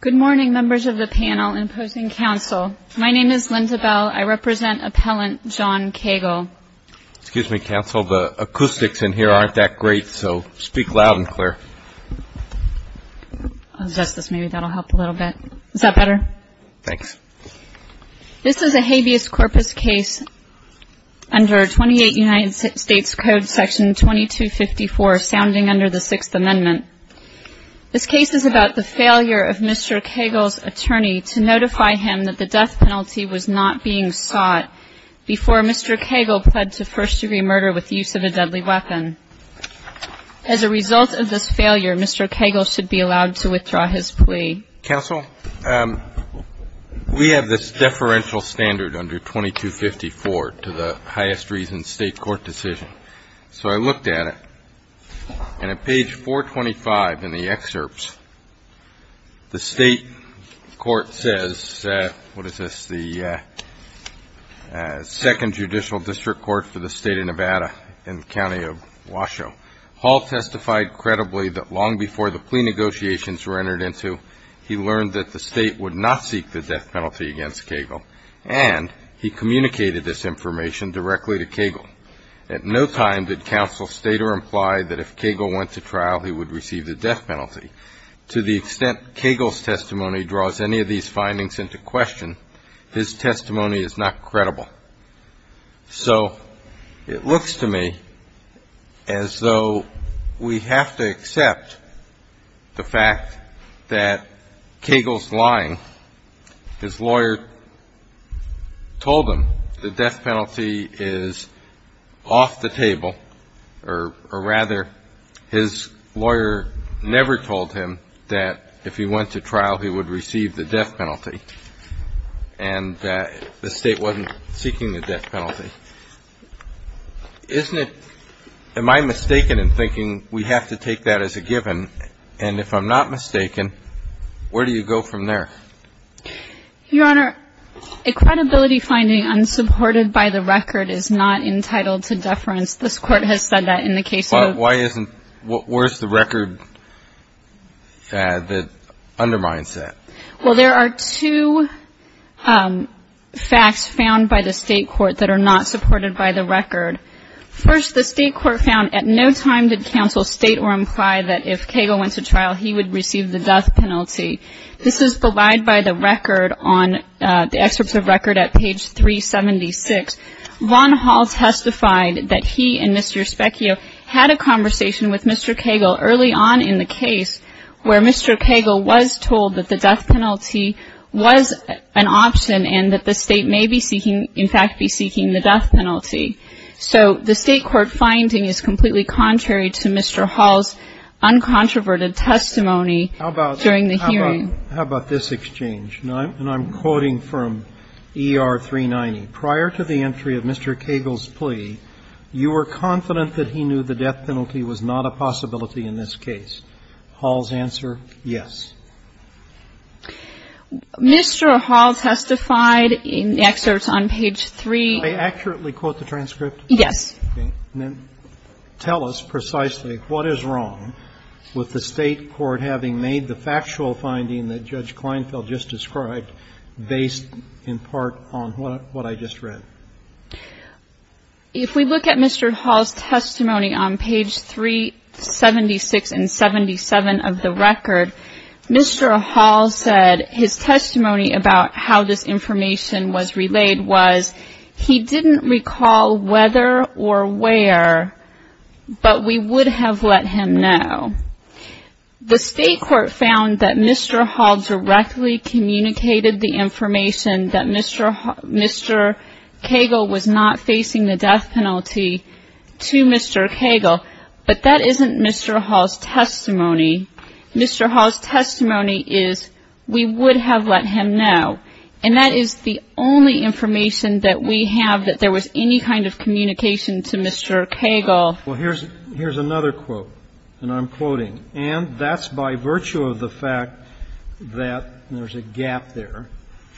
Good morning, members of the panel and opposing counsel. My name is Linda Bell. I represent Appellant John Kegel. Excuse me, counsel. The acoustics in here aren't that great, so speak loud and clear. Justice, maybe that will help a little bit. Is that better? Thanks. This is a habeas corpus case under 28 United States Code Section 2254, sounding under the Sixth Amendment. This case is about the failure of Mr. Kegel's attorney to notify him that the death penalty was not being sought before Mr. Kegel pled to first-degree murder with use of a deadly weapon. As a result of this failure, Mr. Kegel should be allowed to withdraw his plea. Counsel, we have this deferential standard under 2254 to the highest reason state court decision. So I looked at it, and at page 425 in the excerpts, the state court says, what is this, the second judicial district court for the state of Nevada in the county of Washoe. Hall testified credibly that long before the plea negotiations were entered into, he learned that the state would not seek the death penalty against Kegel, and he communicated this information directly to Kegel. At no time did counsel state or imply that if Kegel went to trial, he would receive the death penalty. To the extent Kegel's testimony draws any of these findings into question, his testimony is not credible. So it looks to me as though we have to accept the fact that Kegel's lying. His lawyer told him the death penalty is off the table, or rather his lawyer never told him that if he went to trial, he would receive the death penalty, and that the state wasn't seeking the death penalty. Isn't it, am I mistaken in thinking we have to take that as a given, and if I'm not mistaken, where do you go from there? Your Honor, a credibility finding unsupported by the record is not entitled to deference. This Court has said that in the case of the state court. But why isn't, where's the record that undermines that? Well, there are two facts found by the state court that are not supported by the record. First, the state court found at no time did counsel state or imply that if Kegel went to trial, he would receive the death penalty. This is belied by the record on, the excerpts of record at page 376. Von Hall testified that he and Mr. Specchio had a conversation with Mr. Kegel early on in the case where Mr. Kegel was told that the death penalty was an option and that the state may be seeking, in fact, be seeking the death penalty. So the state court finding is completely contrary to Mr. Hall's uncontroverted testimony during the hearing. How about this exchange? And I'm quoting from ER 390. Prior to the entry of Mr. Kegel's plea, you were confident that he knew the death penalty was not a possibility in this case. Hall's answer, yes. Mr. Hall testified in the excerpts on page 3. Can I accurately quote the transcript? Yes. Okay. Then tell us precisely what is wrong with the state court having made the factual finding that Judge Kleinfeld just described based in part on what I just read. If we look at Mr. Hall's testimony on page 376 and 77 of the record, Mr. Hall said his testimony about how this information was relayed was, he didn't recall whether or where, but we would have let him know. The state court found that Mr. Hall directly communicated the information that Mr. Kegel was not facing the death penalty to Mr. Kegel, but that isn't Mr. Hall's testimony. Mr. Hall's testimony is we would have let him know. And that is the only information that we have that there was any kind of communication to Mr. Kegel. Well, here's another quote. And I'm quoting. And that's by virtue of the fact that there's a gap there.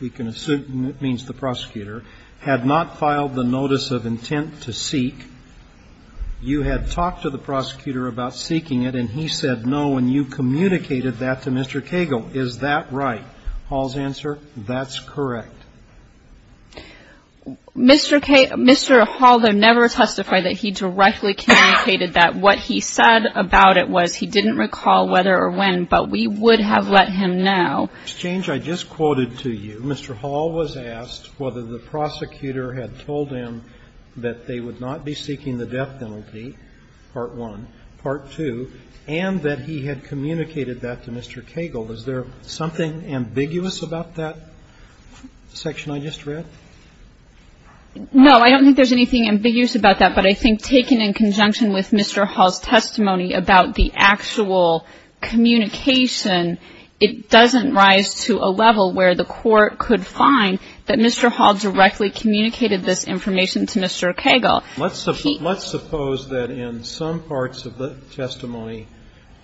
We can assume it means the prosecutor had not filed the notice of intent to seek. You had talked to the prosecutor about seeking it, and he said no, and you communicated that to Mr. Kegel. Is that right? Hall's answer, that's correct. Mr. Hall, though, never testified that he directly communicated that. What he said about it was he didn't recall whether or when, but we would have let him know. Ms. Chang, I just quoted to you, Mr. Hall was asked whether the prosecutor had told him that they would not be seeking the death penalty, part one, part two, and that he had communicated that to Mr. Kegel. Is there something ambiguous about that section I just read? No, I don't think there's anything ambiguous about that. But I think taken in conjunction with Mr. Hall's testimony about the actual communication, it doesn't rise to a level where the court could find that Mr. Hall directly communicated this information to Mr. Kegel. Let's suppose that in some parts of the testimony,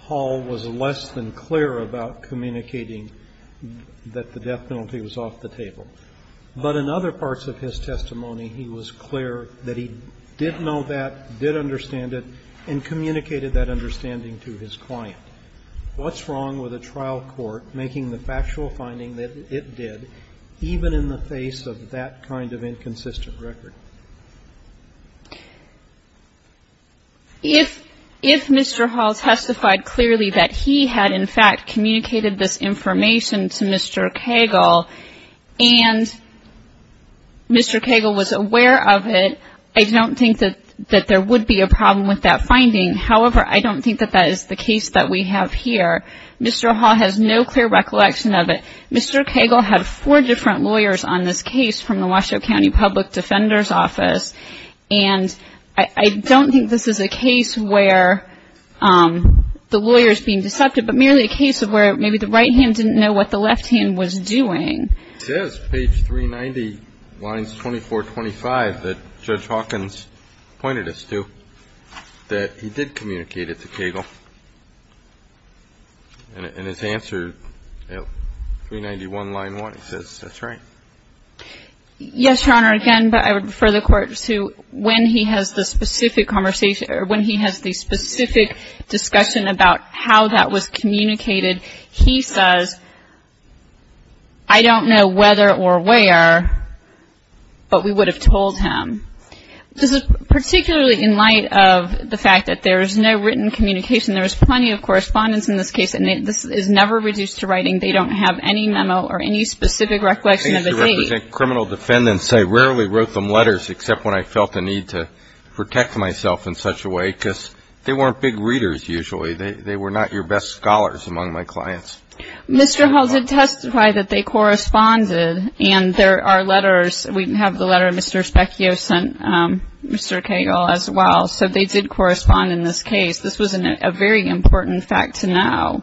Hall was less than clear about communicating that the death penalty was off the table. But in other parts of his testimony, he was clear that he did know that, did understand it, and communicated that understanding to his client. What's wrong with a trial court making the factual finding that it did even in the face of that kind of inconsistent record? If Mr. Hall testified clearly that he had, in fact, communicated this information to Mr. Kegel, and Mr. Kegel was aware of it, I don't think that there would be a problem with that finding. However, I don't think that that is the case that we have here. Mr. Hall has no clear recollection of it. Mr. Kegel had four different lawyers on this case from the Washoe County Public Defender's Office, and I don't think this is a case where the lawyer is being deceptive, but merely a case of where maybe the right hand didn't know what the left hand was doing. He says, page 390, lines 24, 25, that Judge Hawkins pointed us to, that he did communicate it to Kegel. And his answer, 391, line 1, he says, that's right. Yes, Your Honor. Again, but I would refer the Court to when he has the specific conversation or when he has the specific discussion about how that was communicated, he says, I don't know whether or where, but we would have told him. This is particularly in light of the fact that there is no written communication. There is plenty of correspondence in this case, and this is never reduced to writing. They don't have any memo or any specific recollection of a date. I used to represent criminal defendants. I rarely wrote them letters except when I felt the need to protect myself in such a way, because they weren't big readers usually. They were not your best scholars among my clients. Mr. Hull did testify that they corresponded, and there are letters. We have the letter Mr. Specchio sent Mr. Kegel as well. So they did correspond in this case. This was a very important fact to know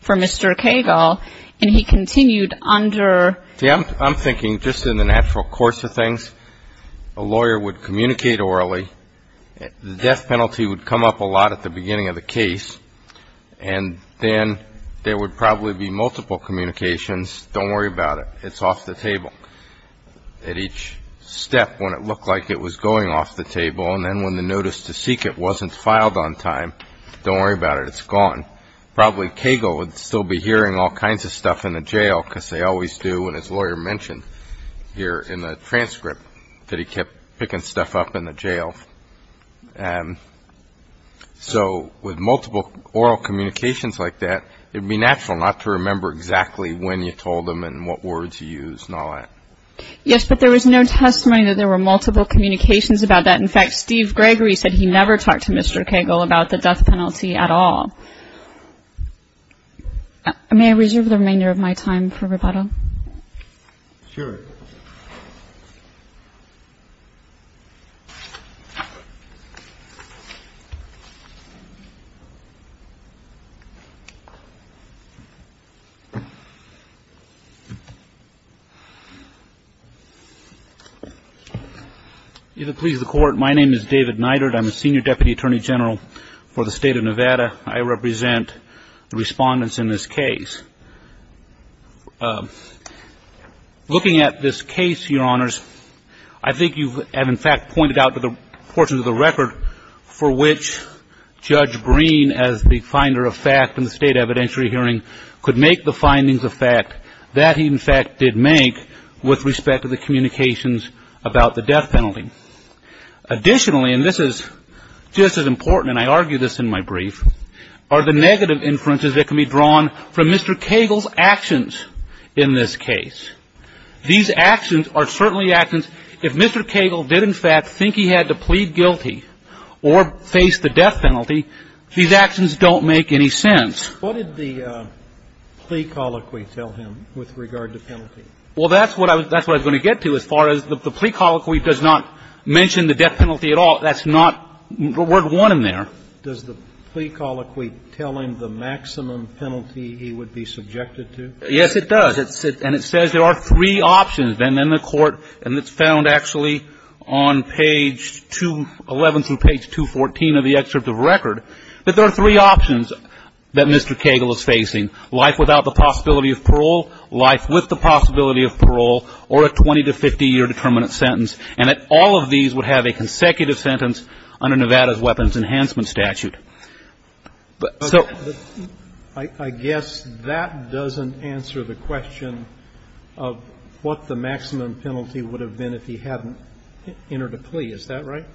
for Mr. Kegel, and he continued under. See, I'm thinking just in the natural course of things, a lawyer would communicate orally. The death penalty would come up a lot at the beginning of the case, and then there would probably be multiple communications, don't worry about it, it's off the table. At each step, when it looked like it was going off the table, and then when the notice to seek it wasn't filed on time, don't worry about it, it's gone. Probably Kegel would still be hearing all kinds of stuff in the jail because they always do, and his lawyer mentioned here in the transcript that he kept picking stuff up in the jail. And so with multiple oral communications like that, it would be natural not to remember exactly when you told them and what words you used and all that. Yes, but there was no testimony that there were multiple communications about that. In fact, Steve Gregory said he never talked to Mr. Kegel about the death penalty at all. May I reserve the remainder of my time for rebuttal? Sure. If it pleases the Court, my name is David Neidert. I'm a Senior Deputy Attorney General for the State of Nevada. I represent the respondents in this case. Looking at this case, Your Honors, I think you have in fact pointed out the portions of the record for which Judge Breen, as the finder of fact in the State evidentiary hearing, could make the findings of fact that he in fact did make with respect to the communications about the death penalty. Additionally, and this is just as important, and I argue this in my brief, are the negative inferences that can be drawn from Mr. Kegel's actions in this case. These actions are certainly actions. If Mr. Kegel did in fact think he had to plead guilty or face the death penalty, these actions don't make any sense. What did the plea colloquy tell him with regard to penalty? Well, that's what I was going to get to as far as the plea colloquy does not mention the death penalty at all. That's not word one in there. Does the plea colloquy tell him the maximum penalty he would be subjected to? Yes, it does. And it says there are three options. And then the Court, and it's found actually on page 11 through page 214 of the excerpt of the record, that there are three options that Mr. Kegel is facing, life without the possibility of parole, life with the possibility of parole, or a 20- to 50-year determinate sentence, and that all of these would have a consecutive sentence under Nevada's weapons enhancement statute. So the ---- I guess that doesn't answer the question of what the maximum penalty would have been if he hadn't entered a plea. Is that right?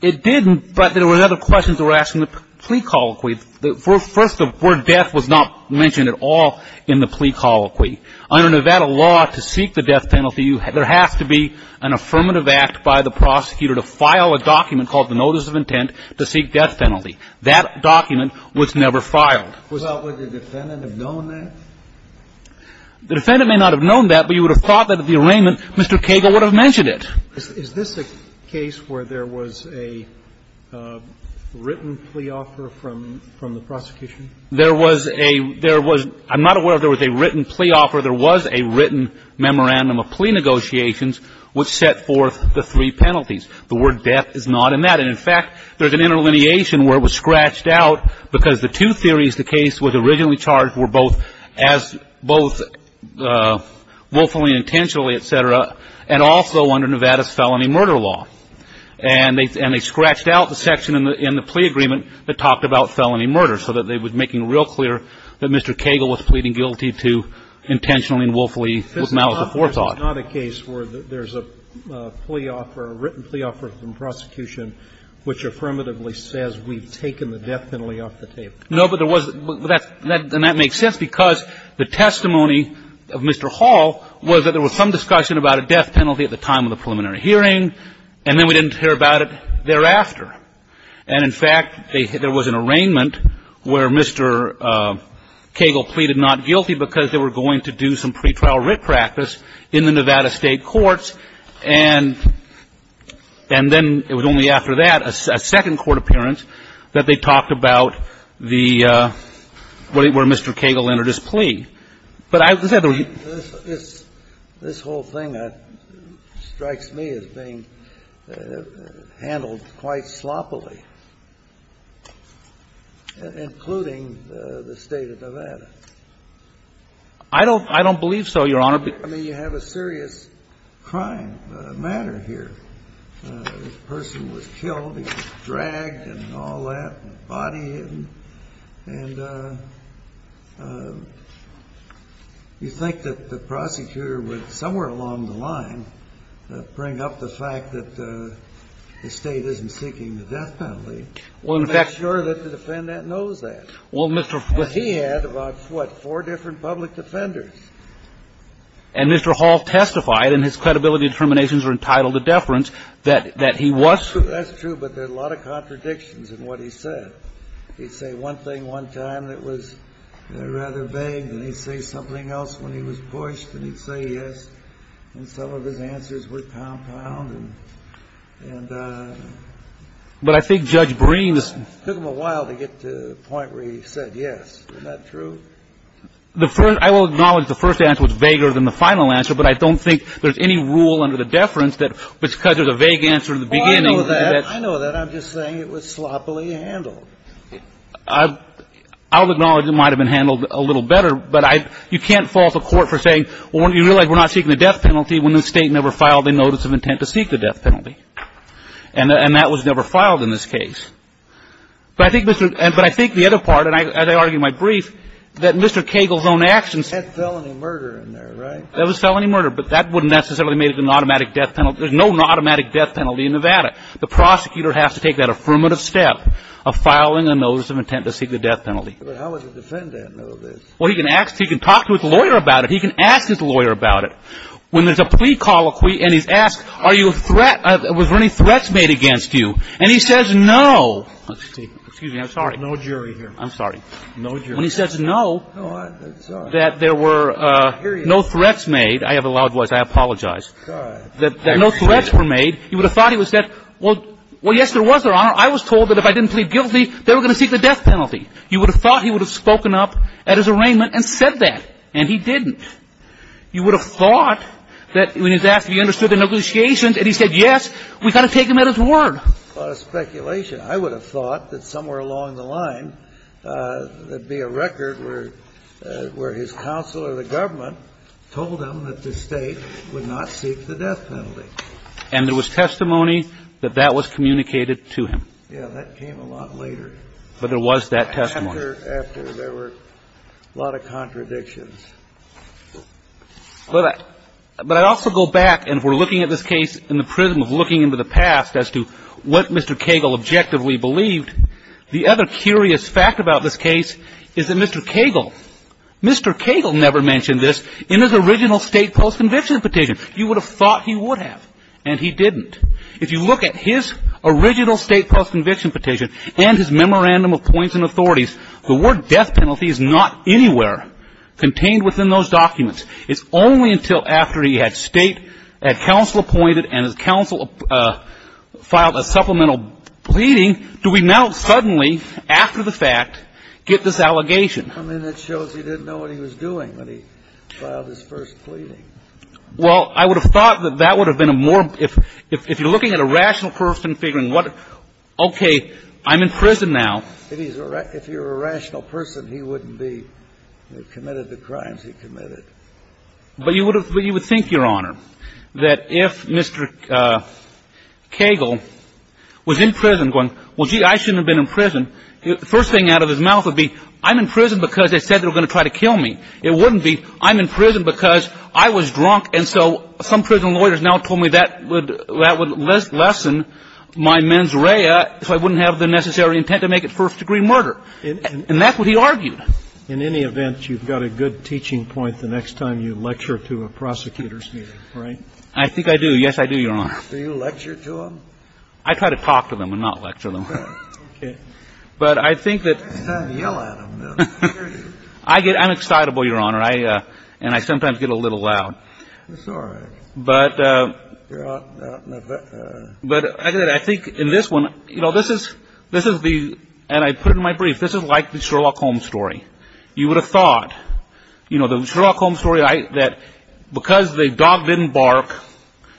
It didn't, but there were other questions that were asked in the plea colloquy. First, the word death was not mentioned at all in the plea colloquy. Under Nevada law, to seek the death penalty, there has to be an affirmative act by the prosecutor to file a document called the notice of intent to seek death penalty. That document was never filed. Would the defendant have known that? The defendant may not have known that, but you would have thought that at the arraignment, Mr. Kegel would have mentioned it. Is this a case where there was a written plea offer from the prosecution? There was a ---- there was ---- I'm not aware if there was a written plea offer. There was a written memorandum of plea negotiations which set forth the three penalties. The word death is not in that. And, in fact, there's an interlineation where it was scratched out because the two theories the case was originally charged were both as both willfully and intentionally, et cetera, and also under Nevada's felony murder law. And they scratched out the section in the plea agreement that talked about felony murder so that they were making it real clear that Mr. Kegel was pleading guilty to intentionally and willfully with malice before thought. This is not a case where there's a plea offer, a written plea offer from prosecution No, but there was ---- and that makes sense because the testimony of Mr. Hall was that there was some discussion about a death penalty at the time of the preliminary hearing, and then we didn't hear about it thereafter. And, in fact, there was an arraignment where Mr. Kegel pleaded not guilty because they were going to do some pretrial writ practice in the Nevada State courts. And then it was only after that, a second court appearance, that they talked about the ---- where Mr. Kegel entered his plea. But I ---- This whole thing strikes me as being handled quite sloppily, including the State of Nevada. I don't believe so, Your Honor. I mean, you have a serious crime matter here. This person was killed. He was dragged and all that, body hidden. And you think that the prosecutor would, somewhere along the line, bring up the fact that the State isn't seeking the death penalty. Well, in fact ---- To make sure that the defendant knows that. Well, Mr. ---- And he had about, what, four different public defenders. And Mr. Hall testified, and his credibility determinations are entitled to deference, that he was ---- That's true. But there are a lot of contradictions in what he said. He'd say one thing one time that was rather vague, and he'd say something else when he was pushed, and he'd say yes, and some of his answers were compound and ---- But I think Judge Breen's ---- It took him a while to get to the point where he said yes. Isn't that true? The first ---- I will acknowledge the first answer was vaguer than the final answer, but I don't think there's any rule under the deference that because there's a vague answer in the beginning ---- I know that. I know that. I'm just saying it was sloppily handled. I'll acknowledge it might have been handled a little better, but I ---- You can't false a court for saying, well, you realize we're not seeking the death penalty when the State never filed a notice of intent to seek the death penalty. And that was never filed in this case. But I think the other part, and as I argue in my brief, that Mr. Cagle's own actions ---- That's felony murder in there, right? That was felony murder, but that wouldn't necessarily make it an automatic death penalty. There's no automatic death penalty in Nevada. The prosecutor has to take that affirmative step of filing a notice of intent to seek the death penalty. But how would the defendant know this? Well, he can talk to his lawyer about it. He can ask his lawyer about it. And he says no. Excuse me. I'm sorry. There's no jury here. I'm sorry. No jury. When he says no, that there were no threats made. I have a loud voice. I apologize. That no threats were made, he would have thought it was that, well, yes, there was, Your Honor. I was told that if I didn't plead guilty, they were going to seek the death penalty. You would have thought he would have spoken up at his arraignment and said that. And he didn't. You would have thought that when he was asked if he understood the negotiations and he said yes, we've got to take him at his word. A lot of speculation. I would have thought that somewhere along the line there would be a record where his counsel or the government told him that the State would not seek the death penalty. And there was testimony that that was communicated to him. Yeah, that came a lot later. But there was that testimony. Later after there were a lot of contradictions. But I also go back, and we're looking at this case in the prism of looking into the past as to what Mr. Cagle objectively believed. The other curious fact about this case is that Mr. Cagle, Mr. Cagle never mentioned this in his original State post-conviction petition. You would have thought he would have, and he didn't. If you look at his original State post-conviction petition and his memorandum of points and authorities, the word death penalty is not anywhere contained within those documents. It's only until after he had State, had counsel appointed, and his counsel filed a supplemental pleading do we now suddenly, after the fact, get this allegation. I mean, that shows he didn't know what he was doing when he filed his first pleading. Well, I would have thought that that would have been a more, if you're looking at a rational person figuring what, okay, I'm in prison now. If you're a rational person, he wouldn't be. He committed the crimes he committed. But you would have, you would think, Your Honor, that if Mr. Cagle was in prison going, well, gee, I shouldn't have been in prison, the first thing out of his mouth would be, I'm in prison because they said they were going to try to kill me. It wouldn't be, I'm in prison because I was drunk, and so some prison lawyers now told me that would lessen my mens rea so I wouldn't have the necessary intent to make it first-degree murder. And that's what he argued. In any event, you've got a good teaching point the next time you lecture to a prosecutor's meeting, right? I think I do. Yes, I do, Your Honor. Do you lecture to them? I try to talk to them and not lecture them. Okay. But I think that — It's time to yell at them. I get, I'm excitable, Your Honor, and I sometimes get a little loud. That's all right. But I think in this one, you know, this is, this is the, and I put it in my brief, this is like the Sherlock Holmes story. You would have thought, you know, the Sherlock Holmes story that because the dog didn't bark,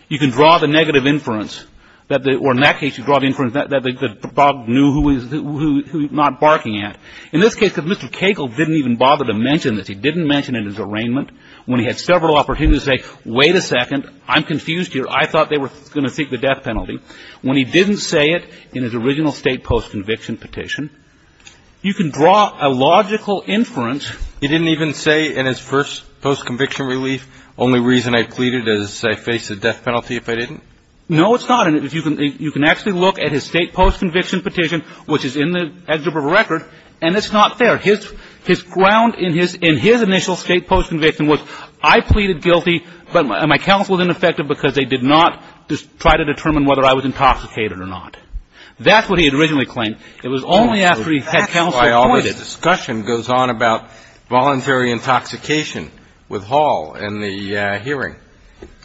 you can draw the negative inference, or in that case you draw the inference that the dog knew who he was not barking at. In this case, because Mr. Cagle didn't even bother to mention this, he didn't mention it in his arraignment, when he had several opportunities to say, wait a second, I'm confused here. I thought they were going to seek the death penalty. When he didn't say it in his original state post-conviction petition, you can draw a logical inference. He didn't even say in his first post-conviction relief, only reason I pleaded is I face a death penalty if I didn't? No, it's not. And if you can, you can actually look at his state post-conviction petition, which is in the exhibit record, and it's not there. His, his ground in his, in his initial state post-conviction was I pleaded guilty, but my counsel was ineffective because they did not try to determine whether I was intoxicated or not. That's what he had originally claimed. It was only after he had counsel appointed. That's why all the discussion goes on about voluntary intoxication with Hall in the hearing.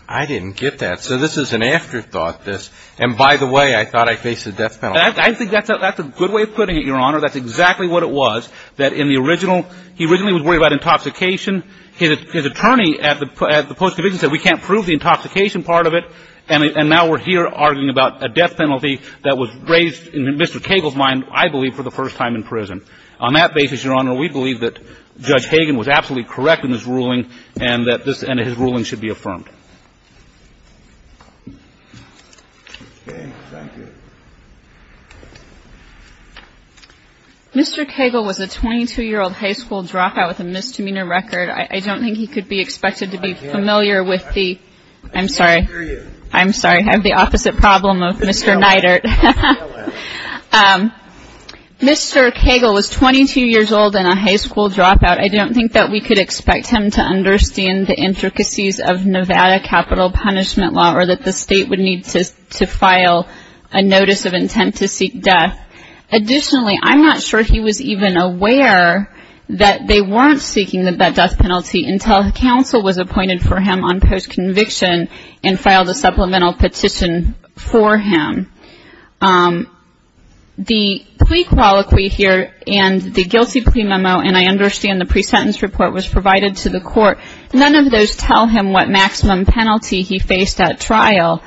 I didn't get that. So this is an afterthought, this. And by the way, I thought I faced a death penalty. I think that's a, that's a good way of putting it, Your Honor. That's exactly what it was, that in the original, he originally was worried about intoxication. His attorney at the post-conviction said we can't prove the intoxication part of it. And now we're here arguing about a death penalty that was raised in Mr. Cagle's mind, I believe, for the first time in prison. On that basis, Your Honor, we believe that Judge Hagan was absolutely correct in his ruling and that this, and his ruling should be affirmed. Thank you. Mr. Cagle was a 22-year-old high school dropout with a misdemeanor record. I don't think he could be expected to be familiar with the, I'm sorry. I'm sorry. I have the opposite problem of Mr. Neidert. Mr. Cagle was 22 years old and a high school dropout. I don't think that we could expect him to understand the intricacies of Nevada capital punishment law or that the state would need to file a notice of intent to seek death. Additionally, I'm not sure he was even aware that they weren't seeking that death penalty until counsel was appointed for him on post-conviction and filed a supplemental petition for him. The plea colloquy here and the guilty plea memo, and I understand the pre-sentence report was provided to the court, none of those tell him what maximum penalty he faced at trial.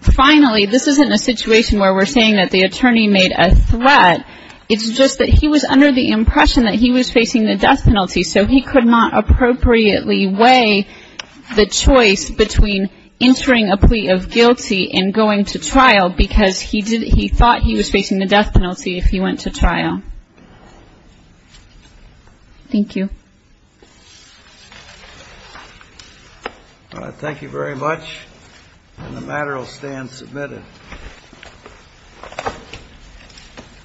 Finally, this isn't a situation where we're saying that the attorney made a threat. It's just that he was under the impression that he was facing the death penalty, so he could not appropriately weigh the choice between entering a plea of guilty and going to trial because he thought he was facing the death penalty if he went to trial. Thank you. Thank you very much. And the matter will stand submitted.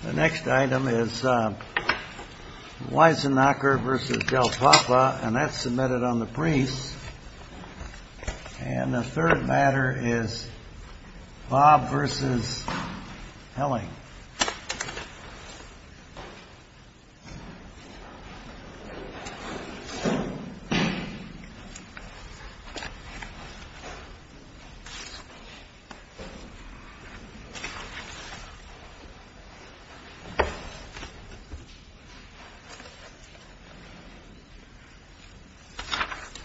The next item is Weisenacher v. Del Papa, and that's submitted on the priest. And the third matter is Bob v. Helling. Thank you.